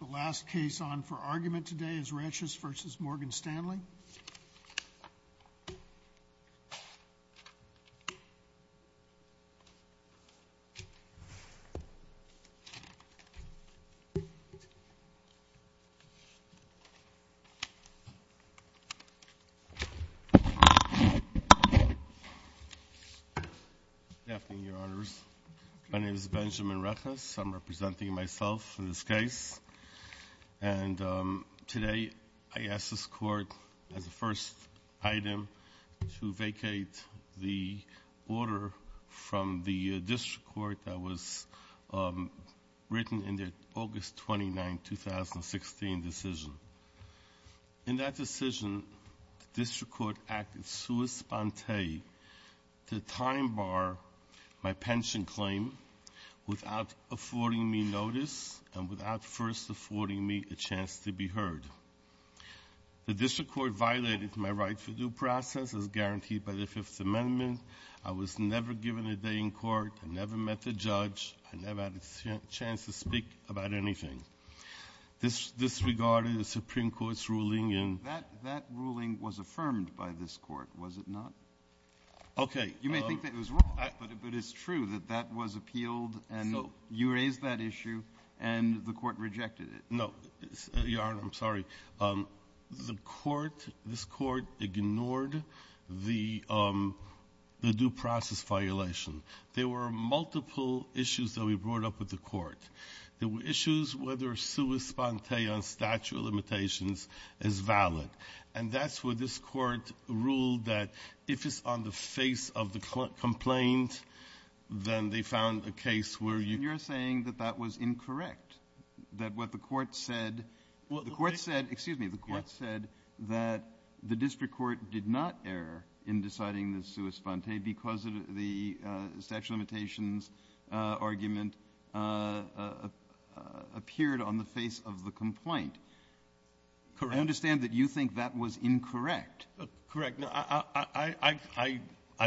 The last case on for argument today is Reches v. Morgan Stanley & Co. And today I ask this court as the first item to vacate the order from the district court that was written in the August 29, 2016 decision. In that decision, the district court acted sua sponte to time bar my pension claim without affording me notice and without first affording me a chance to be heard. The district court violated my right for due process as guaranteed by the Fifth Amendment. I was never given a day in court. I never met the judge. I never had a chance to speak about anything. This disregarded the Supreme Court's ruling. That ruling was affirmed by this court, was it not? Okay. You may think that it was wrong, but it's true that that was appealed and you raised that issue and the court rejected it. No, Your Honor, I'm sorry. The court, this court ignored the due process violation. There were multiple issues that we brought up with the court. There were issues whether sua sponte on statute of limitations is valid. And that's where this court ruled that if it's on the face of the complaint, then they found a case where you You're saying that that was incorrect, that what the court said, the court said, excuse me, appeared on the face of the complaint. Correct. I understand that you think that was incorrect. Correct. I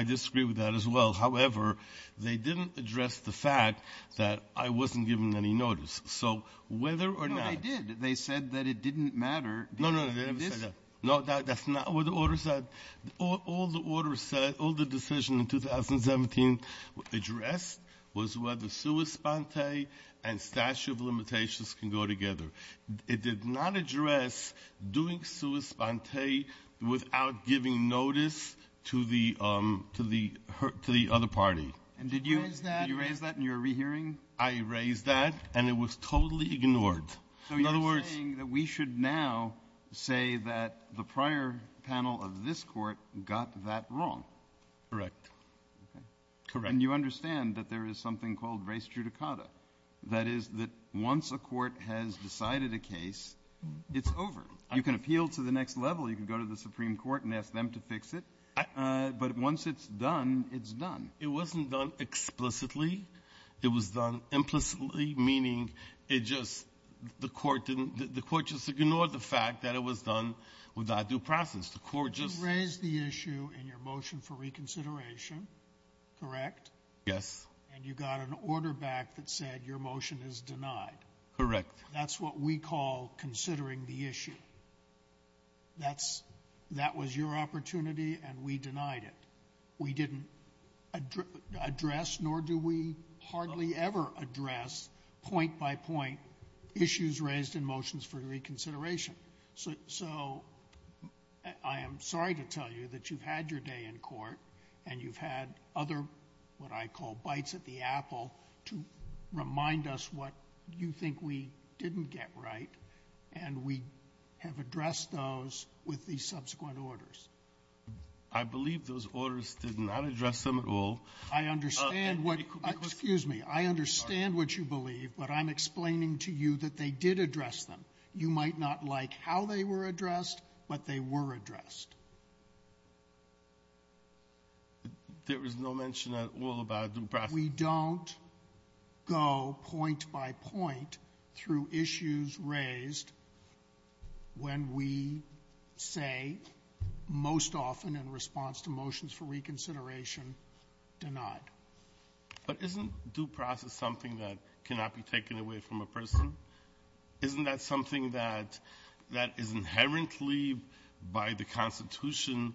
disagree with that as well. However, they didn't address the fact that I wasn't given any notice. So whether or not No, they did. They said that it didn't matter. No, no, no. No, that's not what the order said. All the order said, all the decision in 2017 addressed was whether sua sponte and statute of limitations can go together. It did not address doing sua sponte without giving notice to the other party. And did you raise that in your rehearing? I raised that and it was totally ignored. So you're saying that we should now say that the prior panel of this court got that wrong. Correct. And you understand that there is something called res judicata. That is that once a court has decided a case, it's over. You can appeal to the next level. You can go to the Supreme Court and ask them to fix it. But once it's done, it's done. It wasn't done explicitly. It was done implicitly, meaning the court just ignored the fact that it was done without due process. You raised the issue in your motion for reconsideration, correct? Yes. And you got an order back that said your motion is denied. Correct. That's what we call considering the issue. That was your opportunity and we denied it. We didn't address nor do we hardly ever address point by point issues raised in motions for reconsideration. So I am sorry to tell you that you've had your day in court and you've had other what I call bites at the apple to remind us what you think we didn't get right, and we have addressed those with the subsequent orders. I believe those orders did not address them at all. I understand what you believe, but I'm explaining to you that they did address them. You might not like how they were addressed, but they were addressed. There was no mention at all about due process. We don't go point by point through issues raised when we say most often in response to motions for reconsideration, denied. But isn't due process something that cannot be taken away from a person? Isn't that something that is inherently by the Constitution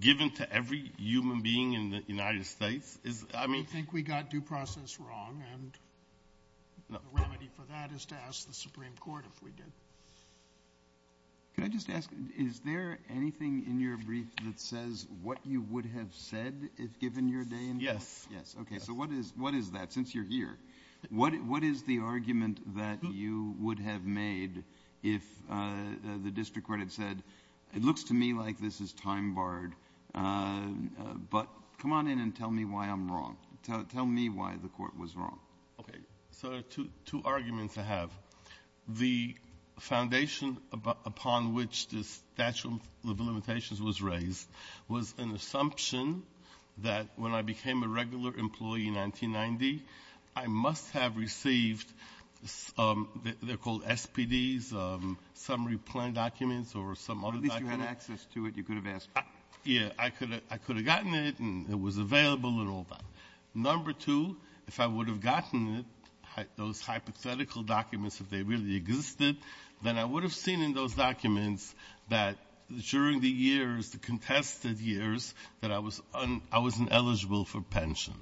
given to every human being in the United States? I think we got due process wrong, and the remedy for that is to ask the Supreme Court if we did. Can I just ask, is there anything in your brief that says what you would have said if given your day in court? Yes. Okay, so what is that since you're here? What is the argument that you would have made if the district court had said, it looks to me like this is time-barred, but come on in and tell me why I'm wrong. Tell me why the court was wrong. Okay, so there are two arguments I have. The foundation upon which the statute of limitations was raised was an assumption that when I became a regular employee in 1990, I must have received, they're called SPDs, summary plan documents or some other document. At least you had access to it. You could have asked. Yes. I could have gotten it, and it was available and all that. Number two, if I would have gotten it, those hypothetical documents, if they really existed, then I would have seen in those documents that during the years, the contested years, that I was un-I was ineligible for pension.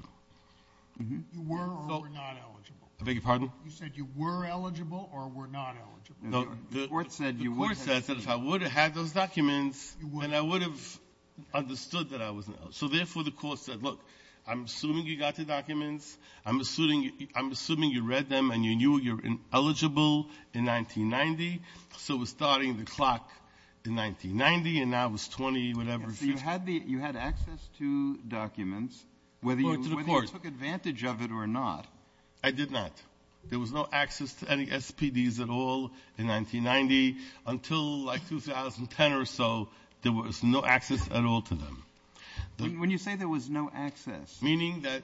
You were or were not eligible? I beg your pardon? You said you were eligible or were not eligible? No. The court said you were. The court said that if I would have had those documents, then I would have understood that I was ineligible. So therefore, the court said, look, I'm assuming you got the documents. I'm assuming you read them, and you knew you were ineligible in 1990. So it was starting the clock in 1990, and now it was 20, whatever. So you had the you had access to documents, whether you took advantage of it or not. I did not. There was no access to any SPDs at all in 1990 until, like, 2010 or so. There was no access at all to them. When you say there was no access? Meaning that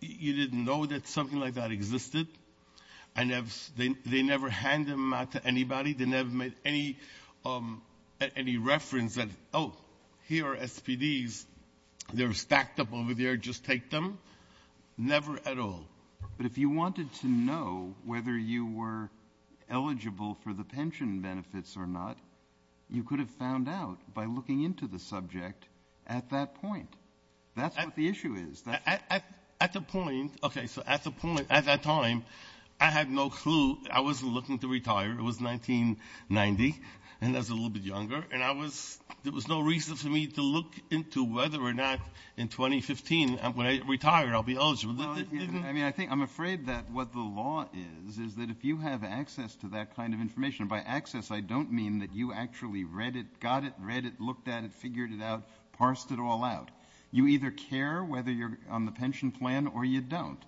you didn't know that something like that existed? And they never hand them out to anybody? They never made any reference that, oh, here are SPDs. They're stacked up over there. Just take them? Never at all. But if you wanted to know whether you were eligible for the pension benefits or not, you could have found out by looking into the subject at that point. That's what the issue is. At the point, okay, so at the point, at that time, I had no clue. I wasn't looking to retire. It was 1990, and I was a little bit younger. And there was no reason for me to look into whether or not in 2015, when I retire, I'll be eligible. I mean, I think I'm afraid that what the law is is that if you have access to that kind of information, by access I don't mean that you actually read it, got it, read it, looked at it, figured it out, parsed it all out. You either care whether you're on the pension plan or you don't.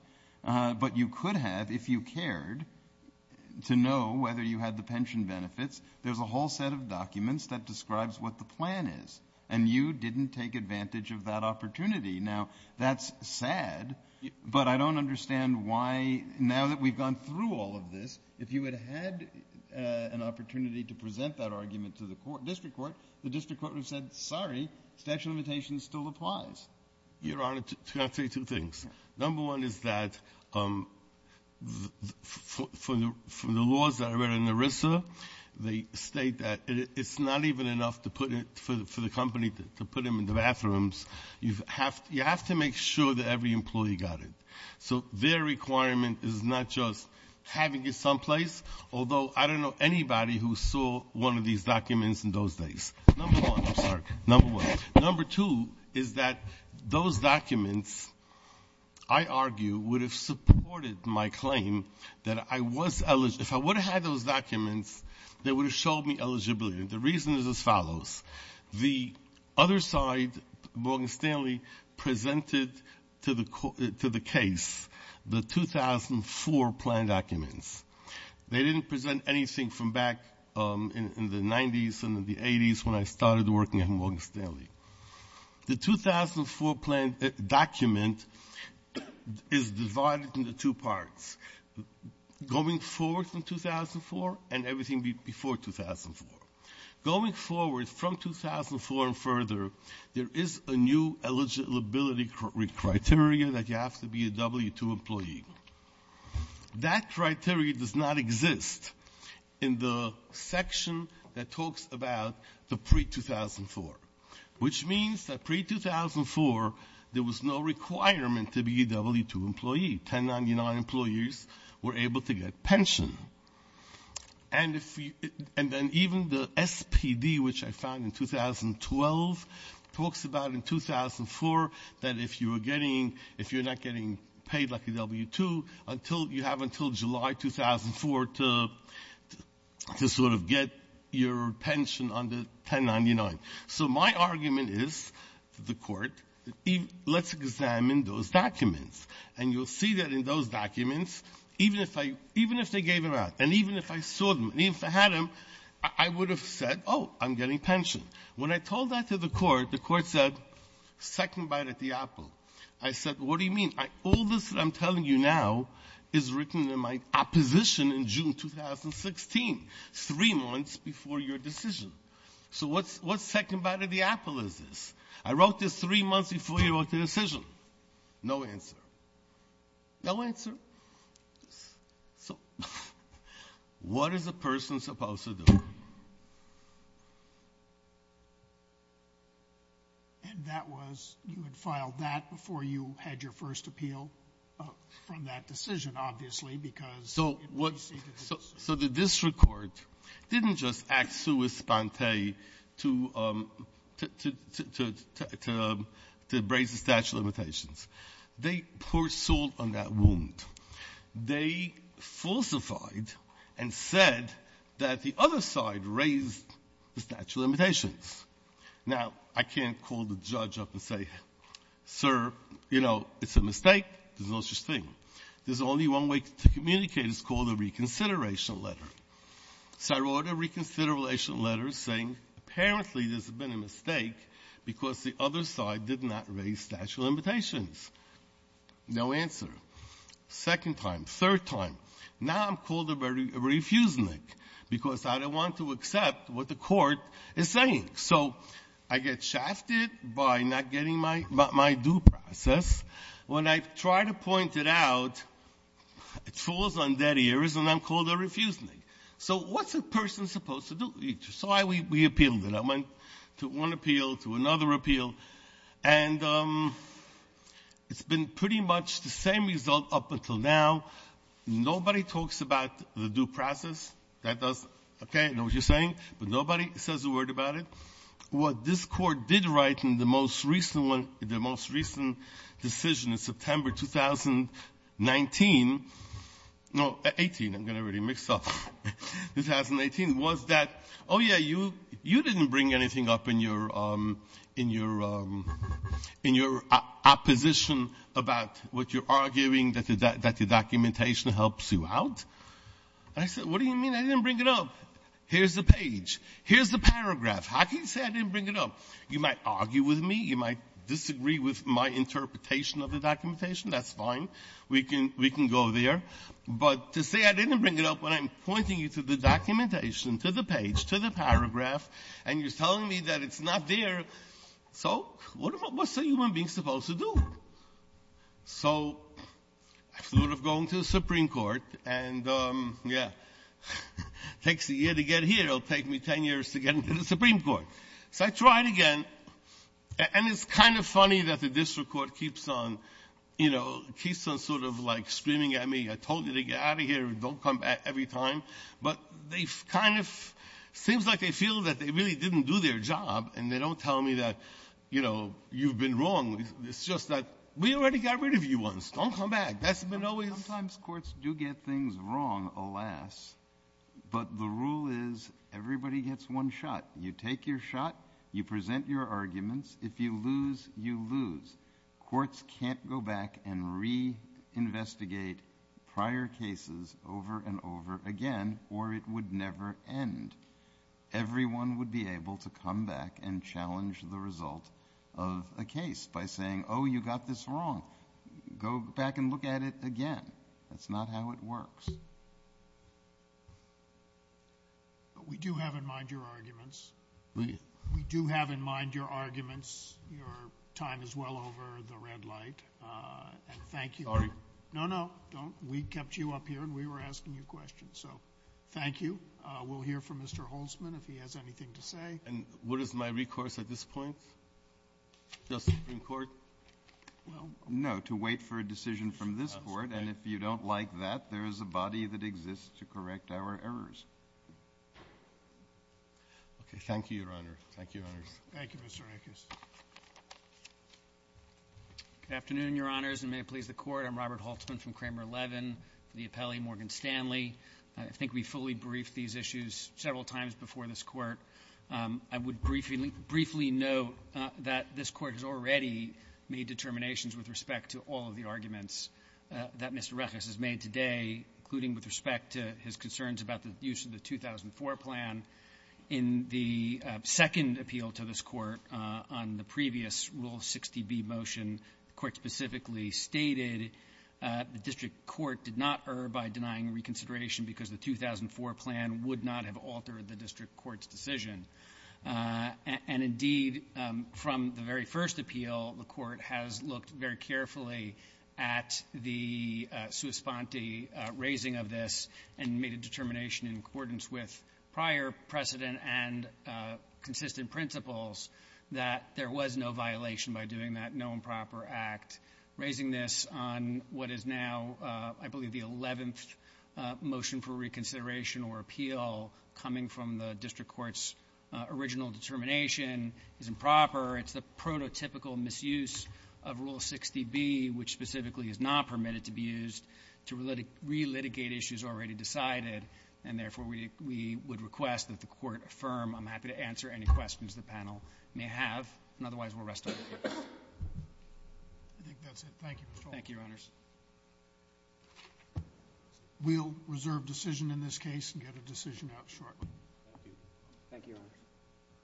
But you could have, if you cared, to know whether you had the pension benefits. There's a whole set of documents that describes what the plan is, and you didn't take advantage of that opportunity. Now, that's sad, but I don't understand why, now that we've gone through all of this, if you had had an opportunity to present that argument to the district court, the district court would have said, sorry, statute of limitations still applies. Your Honor, can I say two things? Number one is that from the laws that I read in ERISA, they state that it's not even enough for the company to put them in the bathrooms. You have to make sure that every employee got it. So their requirement is not just having it someplace, although I don't know anybody who saw one of these documents in those days. Number one, I'm sorry, number one. Number two is that those documents, I argue, would have supported my claim that I was eligible. If I would have had those documents, they would have showed me eligibility. The reason is as follows. The other side, Morgan Stanley presented to the case the 2004 plan documents. They didn't present anything from back in the 90s and the 80s when I started working at Morgan Stanley. The 2004 plan document is divided into two parts, going forward from 2004 and everything before 2004. Going forward from 2004 and further, there is a new eligibility criteria that you have to be a W-2 employee. That criteria does not exist in the section that talks about the pre-2004, which means that pre-2004 there was no requirement to be a W-2 employee. 1099 employees were able to get pension. And then even the SPD, which I found in 2012, talks about in 2004 that if you're not getting paid like a W-2, you have until July 2004 to sort of get your pension under 1099. So my argument is to the Court, let's examine those documents. And you'll see that in those documents, even if they gave them out, and even if I saw them, and even if I had them, I would have said, oh, I'm getting pension. When I told that to the Court, the Court said, second bite at the apple. I said, what do you mean? All this that I'm telling you now is written in my opposition in June 2016, three months before your decision. So what second bite at the apple is this? I wrote this three months before you wrote the decision. No answer. No answer. So what is a person supposed to do? And that was you had filed that before you had your first appeal from that decision, obviously, because it preceded the decision. So the district court didn't just act sui spante to raise the statute of limitations. They poured salt on that wound. They falsified and said that the other side raised the statute of limitations. Now, I can't call the judge up and say, sir, you know, it's a mistake. There's no such thing. There's only one way to communicate. It's called a reconsideration letter. So I wrote a reconsideration letter saying apparently there's been a mistake because the other side did not raise statute of limitations. No answer. Second time. Third time. Now I'm called a refusenik because I don't want to accept what the court is saying. So I get shafted by not getting my due process. When I try to point it out, it falls on dead ears, and I'm called a refusenik. So what's a person supposed to do? So we appealed it. I went to one appeal, to another appeal. And it's been pretty much the same result up until now. Nobody talks about the due process. That does okay. I know what you're saying. But nobody says a word about it. What this Court did write in the most recent one, the most recent decision in September 2019, no, 18. I'm getting really mixed up. 2018, was that, oh, yeah, you didn't bring anything up in your opposition about what you're arguing that the documentation helps you out. I said, what do you mean I didn't bring it up? Here's the page. Here's the paragraph. How can you say I didn't bring it up? You might argue with me. You might disagree with my interpretation of the documentation. That's fine. We can go there. But to say I didn't bring it up when I'm pointing you to the documentation, to the page, to the paragraph, and you're telling me that it's not there. So what's a human being supposed to do? So I sort of go into the Supreme Court and, yeah, it takes a year to get here. It'll take me 10 years to get into the Supreme Court. So I tried again. And it's kind of funny that the district court keeps on sort of like screaming at me. I told you to get out of here. Don't come back every time. But they kind of, seems like they feel that they really didn't do their job, and they don't tell me that, you know, you've been wrong. It's just that we already got rid of you once. Don't come back. That's been always. Sometimes courts do get things wrong, alas. But the rule is everybody gets one shot. You take your shot. You present your arguments. If you lose, you lose. Courts can't go back and reinvestigate prior cases over and over again, or it would never end. Everyone would be able to come back and challenge the result of a case by saying, oh, you got this wrong. Go back and look at it again. That's not how it works. We do have in mind your arguments. We do have in mind your arguments. Your time is well over the red light. And thank you. No, no, don't. We kept you up here, and we were asking you questions. So thank you. We'll hear from Mr. Holtzman if he has anything to say. And what is my recourse at this point? Just the Supreme Court? No, to wait for a decision from this board. And if you don't like that, there is a body that exists to correct our errors. Okay. Thank you, Your Honor. Thank you, Your Honors. Thank you, Mr. Rankin. Good afternoon, Your Honors, and may it please the Court. I'm Robert Holtzman from Kramer Levin, the appellee Morgan Stanley. I think we fully briefed these issues several times before this Court. I would briefly note that this Court has already made determinations with respect to all of the arguments that Mr. Reches has made today, including with respect to his concerns about the use of the 2004 plan. In the second appeal to this Court on the previous Rule 60B motion, the Court specifically stated the District Court did not err by denying reconsideration because the 2004 plan would not have altered the District Court's decision. And indeed, from the very first appeal, the Court has looked very carefully at the sua sponte raising of this and made a determination in accordance with prior precedent and consistent principles that there was no violation by doing that no improper act. Raising this on what is now, I believe, the eleventh motion for reconsideration or appeal coming from the District Court's original determination is improper. It's the prototypical misuse of Rule 60B, which specifically is not permitted to be used, to relitigate issues already decided. And therefore, we would request that the Court affirm. I'm happy to answer any questions the panel may have. And otherwise, we'll rest our case. I think that's it. Thank you, Your Honor. Thank you, Your Honors. We'll reserve decision in this case and get a decision out shortly. Thank you. Thank you, Your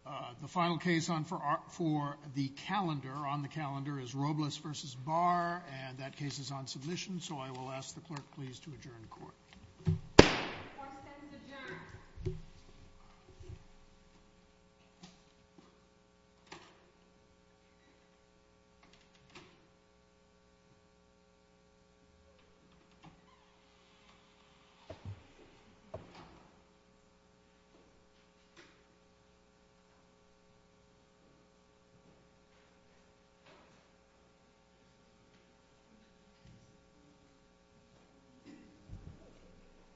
Honors. The final case on for the calendar, on the calendar, is Robles v. Barr. So I will ask the Clerk, please, to adjourn the Court. The Court stands adjourned. Thank you.